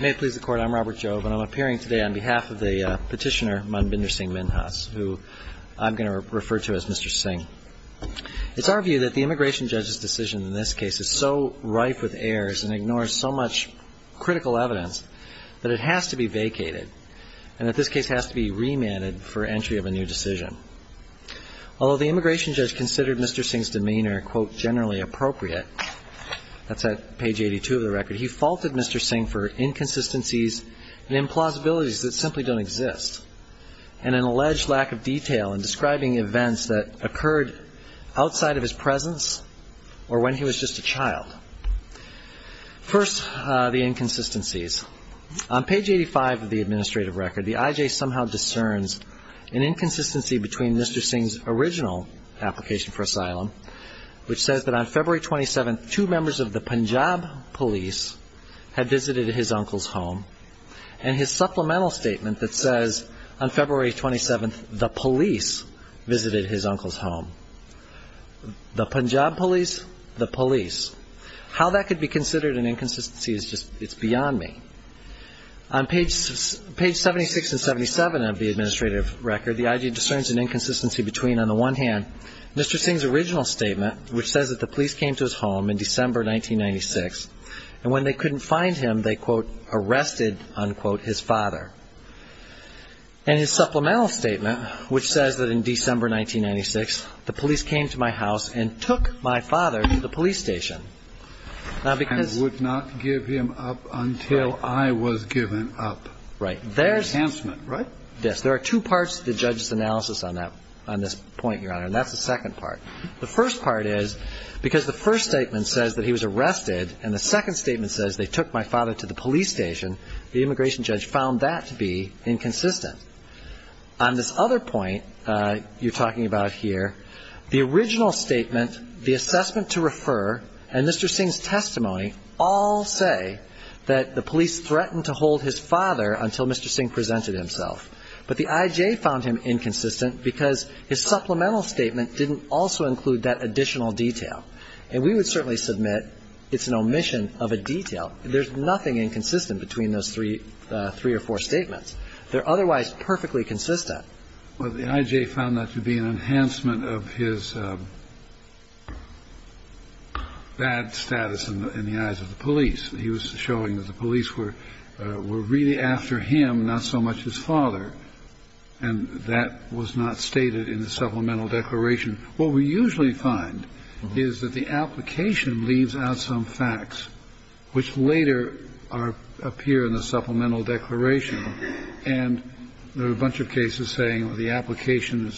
May it please the Court, I'm Robert Jobe and I'm appearing today on behalf of the petitioner Manbinder Singh Minhas, who I'm going to refer to as Mr. Singh. It's our view that the immigration judge's decision in this case is so rife with errors and ignores so much critical evidence that it has to be vacated, and that this case has to be remanded for entry of a new decision. Although the immigration judge considered Mr. Singh's demeanor, quote, generally appropriate, that's at page 82 of the record, he faulted Mr. Singh for inconsistencies and implausibilities that simply don't exist, and an alleged lack of detail in describing events that occurred outside of his presence or when he was just a child. First, the inconsistencies. On page 85 of the administrative record, the IJ somehow discerns an inconsistency between Mr. Singh's original application for asylum, which says that on February 27th, two members of the Punjab police had visited his uncle's home, and his supplemental statement that says on February 27th, the police visited his uncle's home. The Punjab police, the police. How that could be considered an inconsistency is just, it's beyond me. On page 76 and 77 of the administrative record, the IJ discerns an inconsistency between, on the one hand, Mr. Singh's original statement, which says that the police came to his home in December 1996, and when they couldn't find him, they, quote, arrested, unquote, his father. And his supplemental statement, which says that in December 1996, the police came to my house and took my father to the police station. Now, because... And would not give him up until I was given up. Right. Enhancement, right? Yes. There are two parts to the judge's analysis on that, on this point, Your Honor, and that's the second part. The first part is because the first statement says that he was arrested, and the second statement says they took my father to the police station, the immigration judge found that to be inconsistent. On this other point you're talking about here, the original statement, the assessment to refer, and Mr. Singh's testimony all say that the police threatened to hold his father until Mr. Singh presented himself. But the IJ found him inconsistent because his supplemental statement didn't also include that additional detail. And we would certainly submit it's an omission of a detail. There's nothing inconsistent between those three or four statements. They're otherwise perfectly consistent. Well, the IJ found that to be an enhancement of his bad status in the eyes of the police. He was showing that the police were really after him, not so much his father. And that was not stated in the supplemental declaration. What we usually find is that the application leaves out some facts which later appear in the supplemental declaration. And there are a bunch of cases saying the application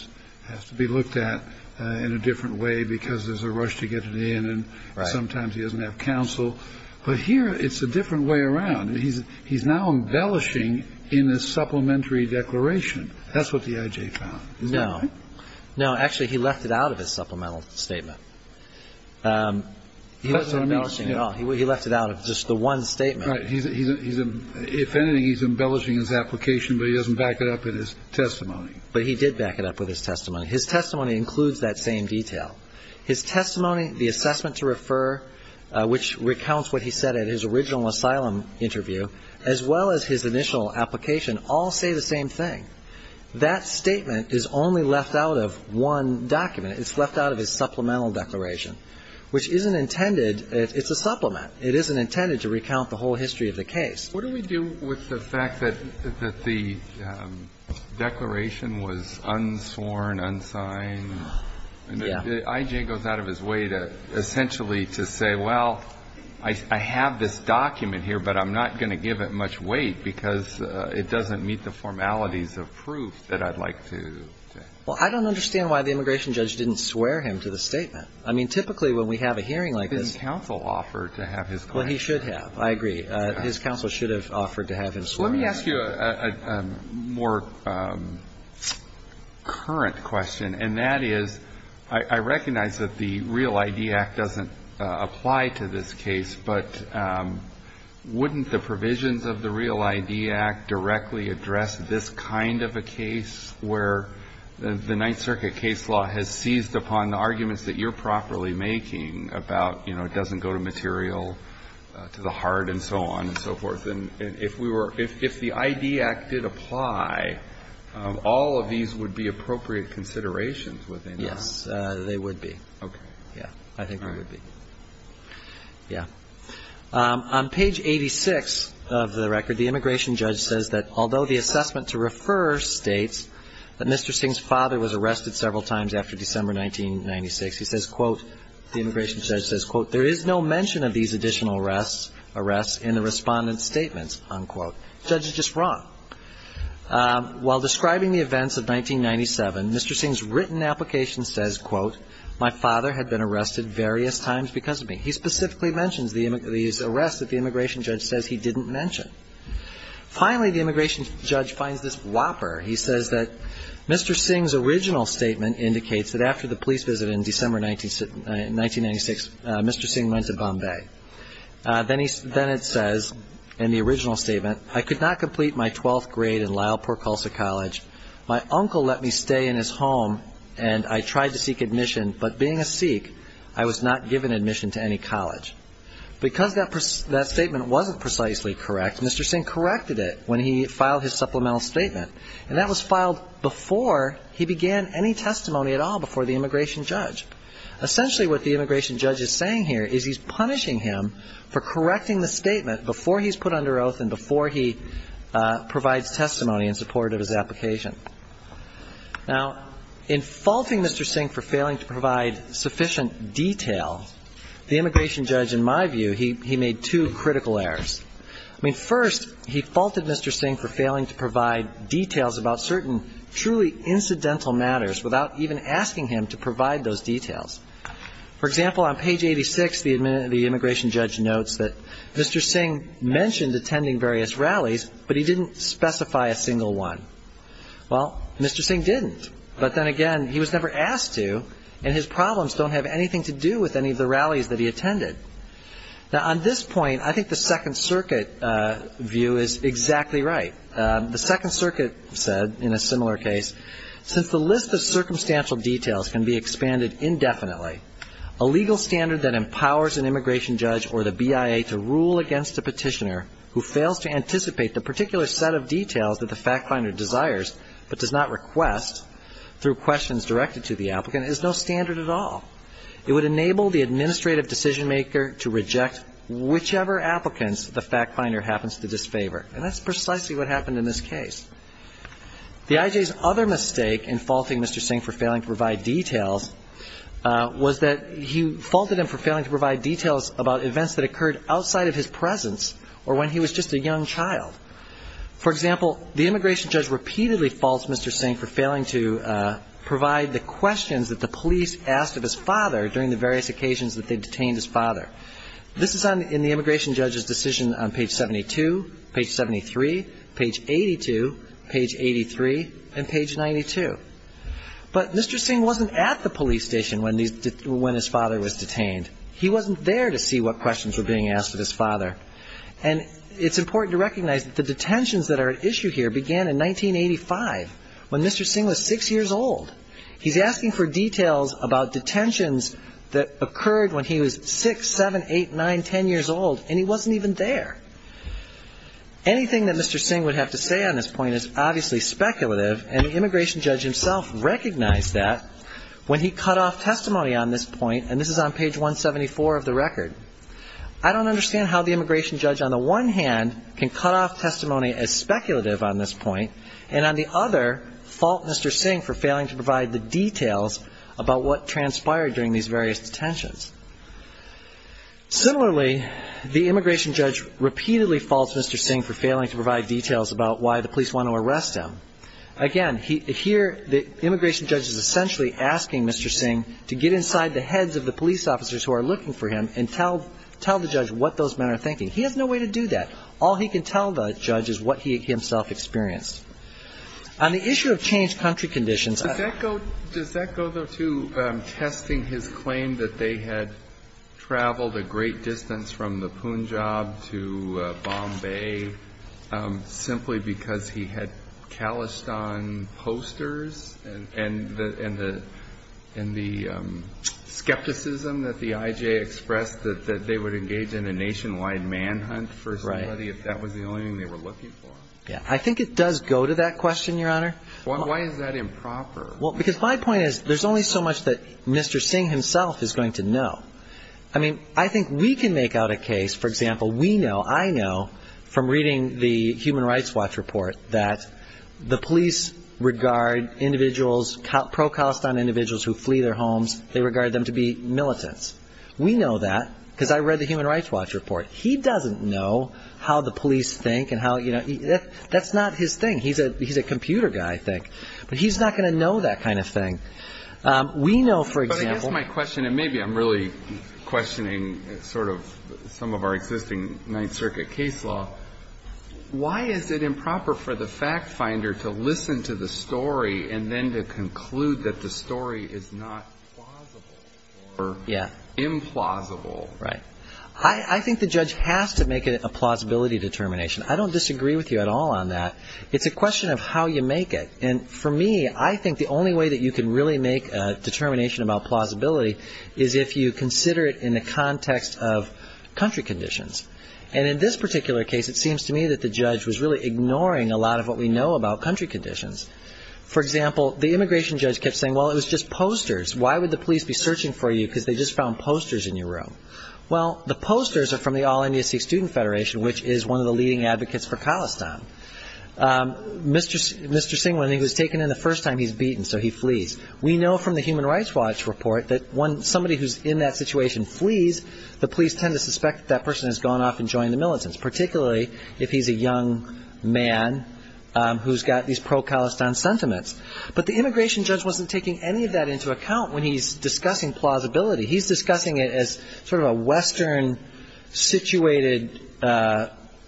has to be looked at in a different way because there's a rush to get it in. And sometimes he doesn't have counsel. But here it's a different way around. He's now embellishing in the supplementary declaration. That's what the IJ found. No. No, actually, he left it out of his supplemental statement. He wasn't embellishing at all. He left it out of just the one statement. Right. If anything, he's embellishing his application, but he doesn't back it up in his testimony. But he did back it up with his testimony. His testimony includes that same detail. His testimony, the assessment to refer, which recounts what he said in his original asylum interview, as well as his initial application all say the same thing. That statement is only left out of one document. It's left out of his supplemental declaration, which isn't intended. It's a supplement. It isn't intended to recount the whole history of the case. What do we do with the fact that the declaration was unsworn, unsigned? Yeah. The IJ goes out of his way to essentially to say, well, I have this document here, but I'm not going to give it much weight because it doesn't meet the formalities of proof that I'd like to. Well, I don't understand why the immigration judge didn't swear him to the statement. I mean, typically when we have a hearing like this. But his counsel offered to have his client swear. Well, he should have. I agree. His counsel should have offered to have him swear. Let me ask you a more current question, and that is, I recognize that the Real ID Act doesn't apply to this case, but wouldn't the provisions of the Real ID Act directly address this kind of a case where the Ninth Circuit case law has seized upon the arguments that you're properly making about, you know, it doesn't go to material, to the heart, and so on and so forth? And if we were – if the ID Act did apply, all of these would be appropriate considerations within that. Yes, they would be. Okay. Yeah. I think they would be. All right. Yeah. On page 86 of the record, the immigration judge says that although the assessment to refer states that Mr. Singh's father was arrested several times after December 1996, he says, quote, the immigration judge says, quote, there is no mention of these additional arrests in the respondent's statements, unquote. The judge is just wrong. While describing the events of 1997, Mr. Singh's written application says, quote, my father had been arrested various times because of me. He specifically mentions these arrests that the immigration judge says he didn't mention. Finally, the immigration judge finds this whopper. He says that Mr. Singh's original statement indicates that after the police visit in December 1996, Mr. Singh went to Bombay. Then it says in the original statement, I could not complete my twelfth grade in Lyle Porkhulsa College. My uncle let me stay in his home and I tried to seek admission, but being a Sikh, I was not given admission to any college. Because that statement wasn't precisely correct, Mr. Singh corrected it when he filed his supplemental statement. And that was filed before he began any testimony at all before the immigration judge. Essentially what the immigration judge is saying here is he's punishing him for correcting the statement before he's put under oath and before he provides testimony in support of his application. Now, in faulting Mr. Singh for failing to provide sufficient detail, the immigration judge, in my view, he made two critical errors. I mean, first, he faulted Mr. Singh for failing to provide details about certain truly incidental matters without even asking him to provide those details. For example, on page 86, the immigration judge notes that Mr. Singh mentioned attending various rallies, but he didn't specify a single one. Well, Mr. Singh didn't. But then again, he was never asked to, and his problems don't have anything to do with any of the rallies that he attended. Now, on this point, I think the Second Circuit view is exactly right. The Second Circuit said, in a similar case, since the list of circumstantial details can be expanded indefinitely, a legal standard that empowers an immigration judge or the BIA to rule against a petitioner who fails to anticipate the particular set of details that the fact finder desires but does not request through questions directed to the applicant is no standard at all. It would enable the administrative decision maker to reject whichever applicants the fact finder happens to disfavor. And that's precisely what happened in this case. The IJ's other mistake in faulting Mr. Singh for failing to provide details was that he faulted him for failing to provide details about events that occurred outside of his presence or when he was just a young child. For example, the immigration judge repeatedly faults Mr. Singh for failing to provide the questions that the police asked of his father during the various occasions that they detained his father. This is in the immigration judge's decision on page 72, page 73, page 82, page 83, and page 92. But Mr. Singh wasn't at the police station when his father was detained. He wasn't there to see what questions were being asked of his father. And it's important to recognize that the detentions that are at issue here began in 1985, when Mr. Singh was six years old. He's asking for details about detentions that occurred when he was six, seven, eight, nine, ten years old, and he wasn't even there. Anything that Mr. Singh would have to say on this point is obviously speculative, and the immigration judge himself recognized that when he cut off testimony on this point, and this is on page 174 of the record. I don't understand how the immigration judge, on the one hand, can cut off testimony as speculative on this point, and on the other, fault Mr. Singh for failing to provide the details about what transpired during these various detentions. Similarly, the immigration judge repeatedly faults Mr. Singh for failing to provide them. Again, here the immigration judge is essentially asking Mr. Singh to get inside the heads of the police officers who are looking for him and tell the judge what those men are thinking. He has no way to do that. All he can tell the judge is what he himself experienced. On the issue of changed country conditions. Does that go to testing his claim that they had traveled a great distance from the Punjab to Bombay simply because he had calloused on posters and the skepticism that the I.J. expressed that they would engage in a nationwide manhunt for somebody if that was the only thing they were looking for? I think it does go to that question, Your Honor. Why is that improper? Because my point is there's only so much that Mr. Singh himself is going to know. I mean, I think we can make out a case, for example, we know, I know, from reading the Human Rights Watch report, that the police regard individuals, pro-calloused on individuals who flee their homes, they regard them to be militants. We know that because I read the Human Rights Watch report. He doesn't know how the police think. That's not his thing. He's a computer guy, I think. But he's not going to know that kind of thing. But I guess my question, and maybe I'm really questioning sort of some of our existing Ninth Circuit case law, why is it improper for the fact finder to listen to the story and then to conclude that the story is not plausible or implausible? Right. I think the judge has to make a plausibility determination. I don't disagree with you at all on that. It's a question of how you make it. And for me, I think the only way that you can really make a determination about plausibility is if you consider it in the context of country conditions. And in this particular case, it seems to me that the judge was really ignoring a lot of what we know about country conditions. For example, the immigration judge kept saying, well, it was just posters. Why would the police be searching for you? Because they just found posters in your room. Well, the posters are from the All-India Sikh Student Federation, which is one of the leading advocates for calloused on. Mr. Singh, when he was taken in the first time, he's beaten, so he flees. We know from the Human Rights Watch report that when somebody who's in that situation flees, the police tend to suspect that person has gone off and joined the militants, particularly if he's a young man who's got these pro-calloused on sentiments. But the immigration judge wasn't taking any of that into account when he's discussing plausibility. He's discussing it as sort of a western-situated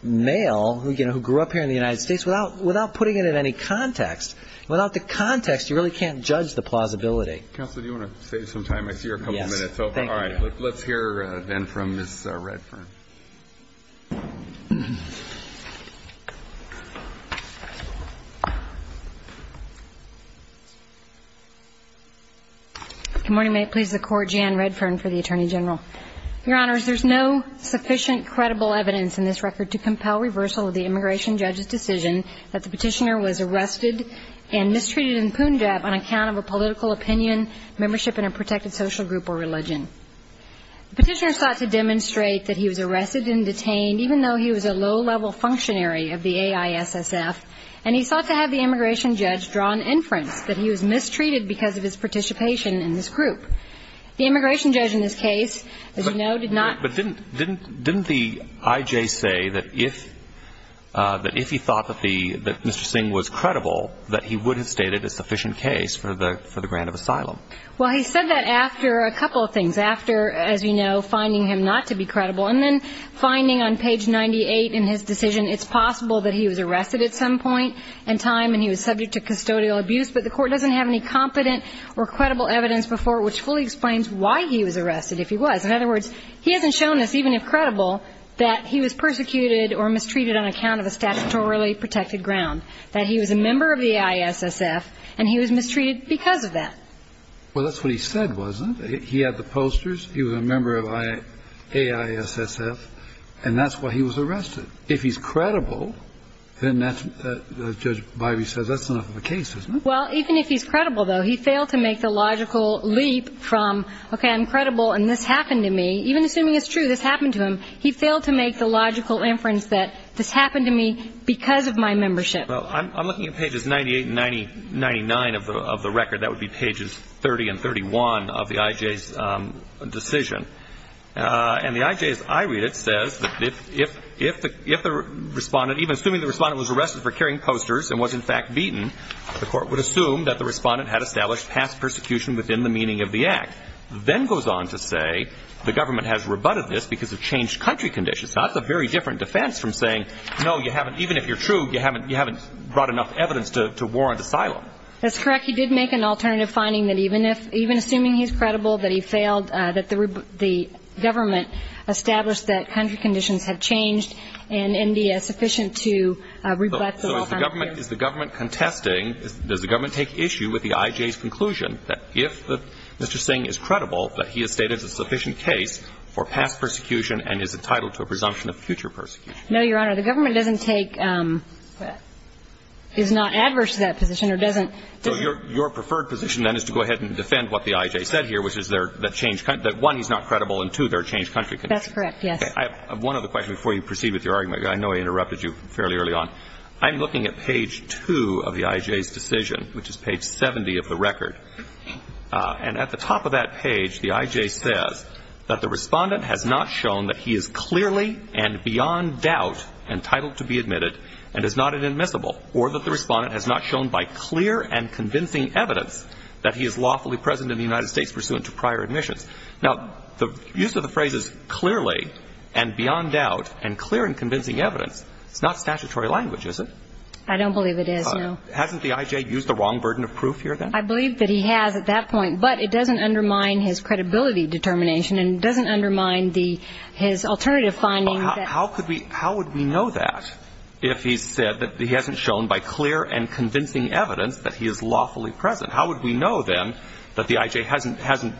male who grew up here in the United States without putting it in any context. Without the context, you really can't judge the plausibility. Counsel, do you want to save some time? I see you're a couple minutes over. All right. Let's hear, then, from Ms. Redfern. Good morning. May it please the Court. Jan Redfern for the Attorney General. Your Honors, there's no sufficient credible evidence in this record to compel reversal of the immigration judge's decision that the petitioner was arrested and mistreated in Punjab on account of a political opinion, membership in a protected social group or religion. even though he was a low-level functionary of the AISSF, and he sought to have the immigration judge draw an inference that he was mistreated because of his participation in this group. The immigration judge in this case, as you know, did not. But didn't the I.J. say that if he thought that Mr. Singh was credible, that he would have stated a sufficient case for the grant of asylum? Well, he said that after a couple of things. After, as you know, finding him not to be credible. And then finding on page 98 in his decision it's possible that he was arrested at some point in time and he was subject to custodial abuse, but the Court doesn't have any competent or credible evidence before which fully explains why he was arrested if he was. In other words, he hasn't shown us, even if credible, that he was persecuted or mistreated on account of a statutorily protected ground, that he was a member of the I.S.S.F., and he was mistreated because of that. Well, that's what he said, wasn't it? He had the posters. He was a member of A.I.S.S.F., and that's why he was arrested. If he's credible, then that's what Judge Bivey says. That's enough of a case, isn't it? Well, even if he's credible, though, he failed to make the logical leap from, okay, I'm credible and this happened to me. Even assuming it's true, this happened to him, he failed to make the logical inference that this happened to me because of my membership. Well, I'm looking at pages 98 and 99 of the record. That would be pages 30 and 31 of the I.J.'s decision. And the I.J.'s, I read it, says that if the respondent, even assuming the respondent was arrested for carrying posters and was, in fact, beaten, the court would assume that the respondent had established past persecution within the meaning of the act. Then goes on to say the government has rebutted this because of changed country conditions. Now, that's a very different defense from saying, no, you haven't, even if you're true, you haven't brought enough evidence to warrant asylum. That's correct. He did make an alternative finding that even if, even assuming he's credible, that he failed, that the government established that country conditions have changed and India is sufficient to rebut the law. So is the government contesting, does the government take issue with the I.J.'s conclusion that if Mr. Singh is credible that he has stated a sufficient case for past persecution and is entitled to a presumption of future persecution? No, Your Honor, the government doesn't take, is not adverse to that position or doesn't Your preferred position, then, is to go ahead and defend what the I.J. said here, which is that one, he's not credible, and two, there are changed country conditions. That's correct, yes. I have one other question before you proceed with your argument. I know I interrupted you fairly early on. I'm looking at page 2 of the I.J.'s decision, which is page 70 of the record. And at the top of that page, the I.J. says that the respondent has not shown that he is clearly and beyond doubt entitled to be admitted and is not an admissible, or that the respondent has not shown by clear and convincing evidence that he is lawfully present in the United States pursuant to prior admissions. Now, the use of the phrase is clearly and beyond doubt and clear and convincing evidence. It's not statutory language, is it? I don't believe it is, no. Hasn't the I.J. used the wrong burden of proof here, then? I believe that he has at that point, but it doesn't undermine his credibility determination and doesn't undermine his alternative findings. How would we know that if he said that he hasn't shown by clear and convincing evidence that he is lawfully present? How would we know, then, that the I.J. hasn't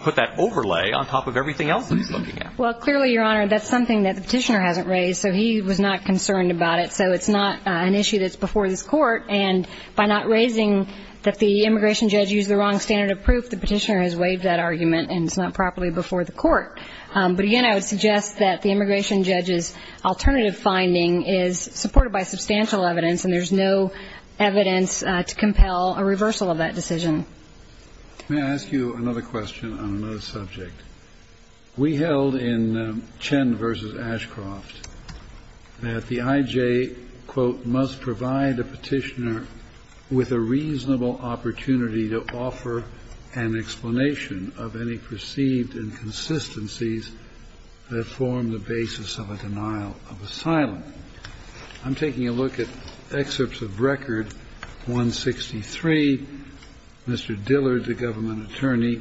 put that overlay on top of everything else that he's looking at? Well, clearly, Your Honor, that's something that the Petitioner hasn't raised, so he was not concerned about it. So it's not an issue that's before this Court. And by not raising that the immigration judge used the wrong standard of proof, the Petitioner has waived that argument, and it's not properly before the Court. But, again, I would suggest that the immigration judge's alternative finding is supported by substantial evidence, and there's no evidence to compel a reversal of that decision. May I ask you another question on another subject? We held in Chen v. Ashcroft that the I.J., quote, must provide the Petitioner with a reasonable opportunity to offer an explanation of any perceived inconsistencies that form the basis of a denial of asylum. I'm taking a look at excerpts of Record 163. Mr. Dillard, the government attorney,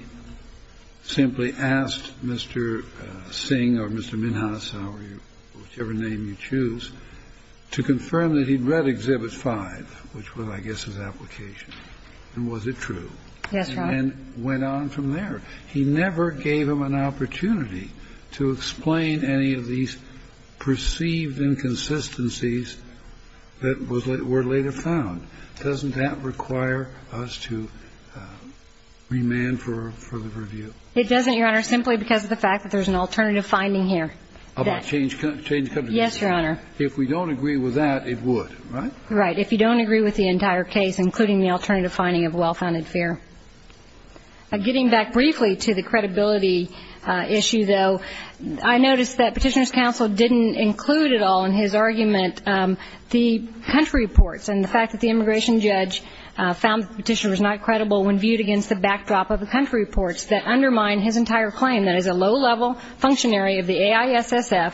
simply asked Mr. Singh or Mr. Minhas, or whichever name you choose, to confirm that he'd read Exhibit 5, which was, I guess, his application. And was it true? Yes, Your Honor. And went on from there. He never gave him an opportunity to explain any of these perceived inconsistencies that were later found. Doesn't that require us to remand for further review? It doesn't, Your Honor, simply because of the fact that there's an alternative finding here. About change of country? Yes, Your Honor. If we don't agree with that, it would, right? Right. If you don't agree with the entire case, including the alternative finding of well-founded fear. Getting back briefly to the credibility issue, though, I noticed that Petitioner's counsel didn't include at all in his argument the country reports and the fact that the immigration judge found the petitioner was not credible when viewed against the backdrop of the country reports that undermine his entire claim that as a low-level functionary of the AISSF,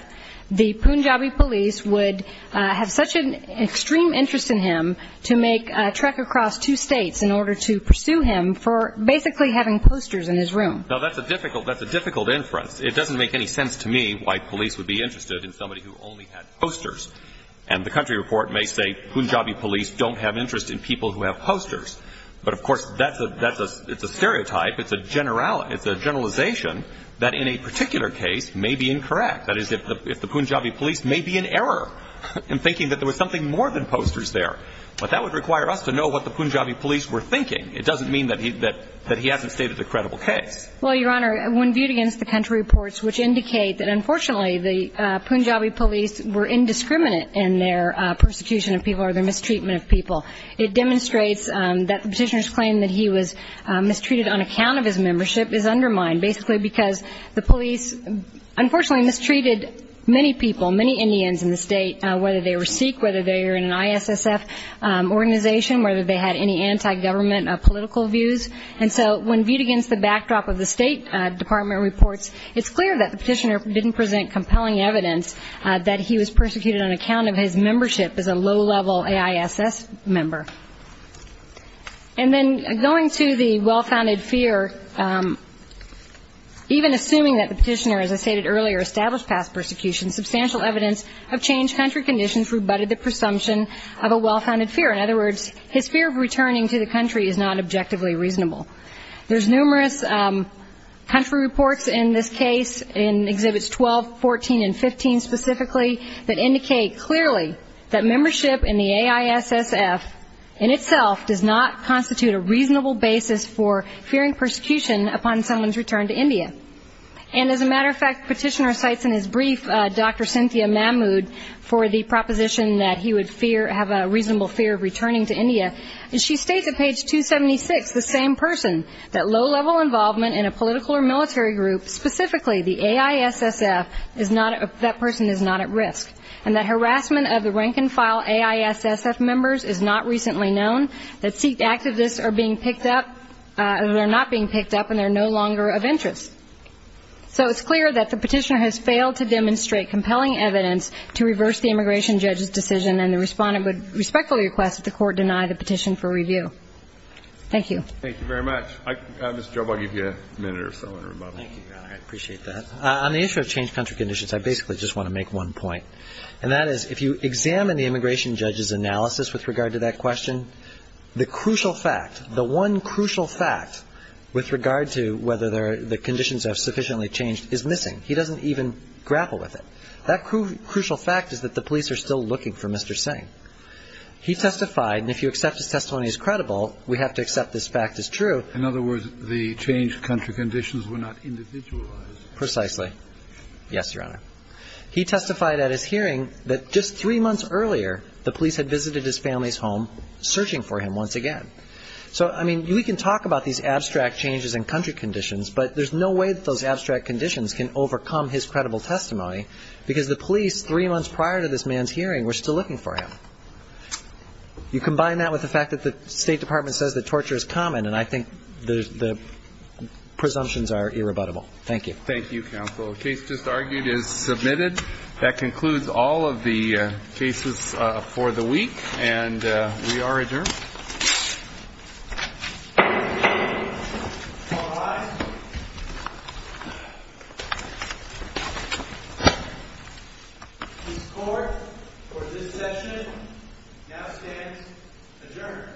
the Punjabi police would have such an extreme interest in him to make a trek across two states in order to pursue him for basically having posters in his room. Now, that's a difficult inference. It doesn't make any sense to me why police would be interested in somebody who only had posters. And the country report may say Punjabi police don't have interest in people who have posters. But, of course, that's a stereotype. It's a generalization that in a particular case may be incorrect. That is, if the Punjabi police may be in error in thinking that there was something more than posters there. But that would require us to know what the Punjabi police were thinking. It doesn't mean that he hasn't stated the credible case. Well, Your Honor, when viewed against the country reports, which indicate that, unfortunately, the Punjabi police were indiscriminate in their persecution of people or their mistreatment of people, it demonstrates that the petitioner's claim that he was mistreated on account of his membership is undermined, basically because the police unfortunately mistreated many people, many Indians in the state, whether they were Sikh, whether they were in an ISSF organization, whether they had any anti-government political views. And so when viewed against the backdrop of the State Department reports, it's clear that the petitioner didn't present compelling evidence that he was persecuted on account of his member. And then going to the well-founded fear, even assuming that the petitioner, as I stated earlier, established past persecution, substantial evidence of changed country conditions rebutted the presumption of a well-founded fear. In other words, his fear of returning to the country is not objectively reasonable. There's numerous country reports in this case, in Exhibits 12, 14, and 15 specifically, that indicate clearly that membership in the AISSF in itself does not constitute a reasonable basis for fearing persecution upon someone's return to India. And as a matter of fact, the petitioner cites in his brief Dr. Cynthia Mahmood for the proposition that he would fear, have a reasonable fear of returning to India, and she states at page 276, the same person, that low-level involvement in a political or military group, specifically the AISSF, is not, that person is not at risk. And that harassment of the rank-and-file AISSF members is not recently known, that Sikh activists are being picked up, they're not being picked up, and they're no longer of interest. So it's clear that the petitioner has failed to demonstrate compelling evidence to reverse the immigration judge's decision, and the respondent would respectfully request that the court deny the petition for review. Thank you. Thank you very much. Mr. Job, I'll give you a minute or so in rebuttal. Thank you, Your Honor. I appreciate that. On the issue of changed country conditions, I basically just want to make one point, and that is, if you examine the immigration judge's analysis with regard to that question, the crucial fact, the one crucial fact with regard to whether the conditions have sufficiently changed is missing. He doesn't even grapple with it. That crucial fact is that the police are still looking for Mr. Singh. He testified, and if you accept his testimony as credible, we have to accept this fact as true. In other words, the changed country conditions were not individualized. Precisely. Yes, Your Honor. He testified at his hearing that just three months earlier, the police had visited his family's home searching for him once again. So, I mean, we can talk about these abstract changes in country conditions, but there's no way that those abstract conditions can overcome his credible testimony because the police, three months prior to this man's hearing, were still looking for him. You combine that with the fact that the State Department says that torture is common, and I think the presumptions are irrebuttable. Thank you. Thank you, counsel. The case just argued is submitted. That concludes all of the cases for the week, and we are adjourned. All rise. This court, for this session, now stands adjourned. I didn't know that you were going to introduce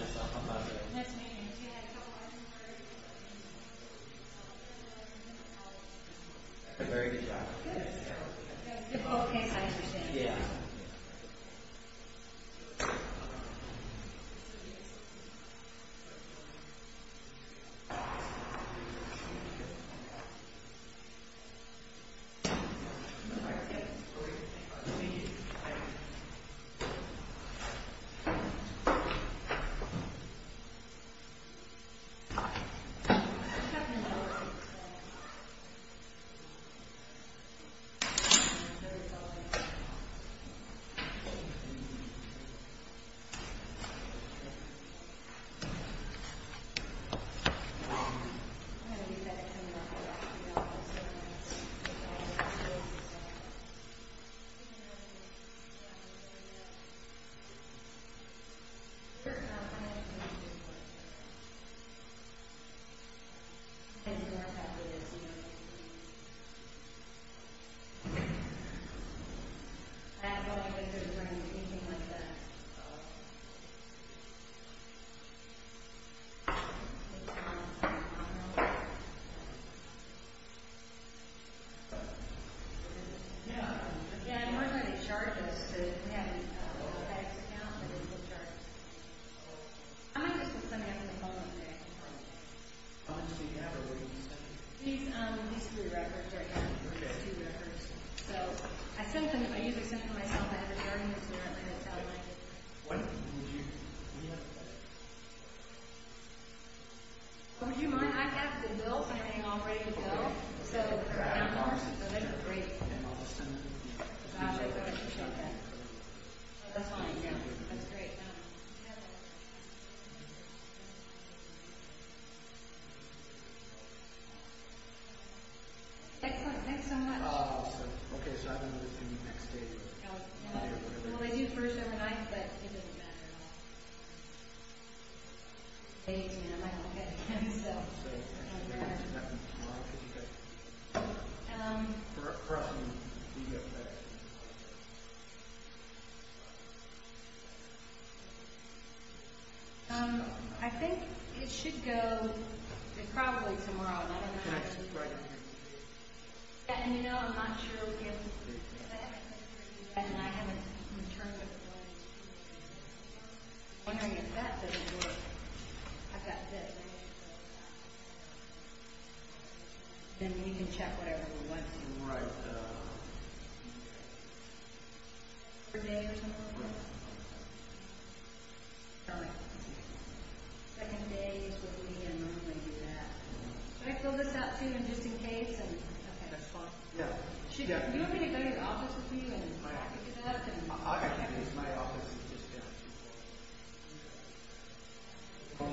myself. How about it? Nice meeting you. Do you have a couple of questions for me? I'm going to let you know. I did a very good job. Good. It was a difficult case, I appreciate it. Yeah. Thank you. Thank you. Thank you. Anything like that? No. Again, we're going to get charges. If we have an attack to count, there's no charge. I'm interested in something else, and then we'll move on to the next. How much did you have, or what did you spend? These three records right here. Okay. These two records. I sent them. I usually send them to myself. I have a hearing instrument, and I don't like it. Would you mind? I have the bills. I'm getting all ready to go. They're out in Austin. Those are great. They're in Austin. That's fine. That's great. Excellent. Thanks so much. Awesome. Okay, so I have another thing the next day. Well, they do first overnight, but it doesn't matter at all. I might not get it again, so. Okay. I think it should go to probably tomorrow. I don't know. Right here. Yeah, and you know, I'm not sure if that and I haven't returned it. I'm wondering if that doesn't work. I've got this. Then you can check whatever you want to. Right. For a day or something like that? Right. Second day is what we normally do that. Can I fill this out, too, just in case? That's fine. Yeah. Do you have anybody in the office with you? I can't use my office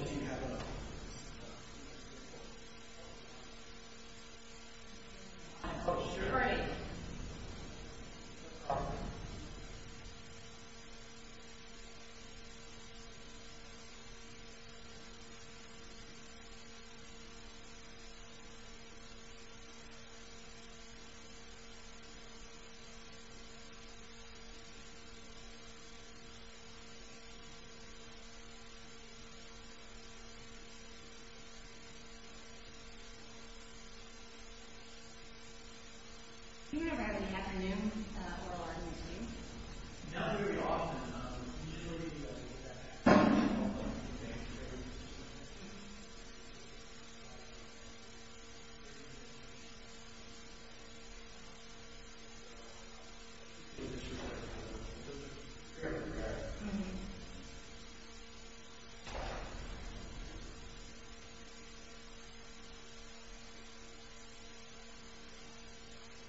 just yet. Okay. Great. Okay. Do you ever have an afternoon or a long meeting? Not very often. Usually, that happens all the time. Okay.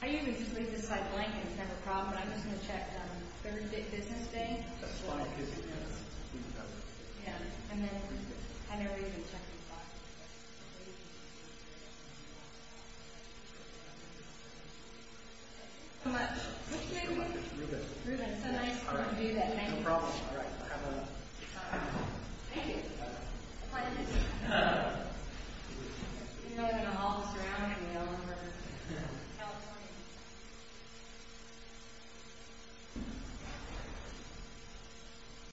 I usually just leave this slide blank and it's never a problem, but I'm just going to check third business day. That's fine. Yeah, and then I never even check these boxes. Thank you so much. What's your name again? Ruben. Ruben, it's so nice of you to do that. Thank you. No problem. All right. Have a good time. Thank you. You're really going to haul this around? I know. We're Californians. Thank you. You're welcome.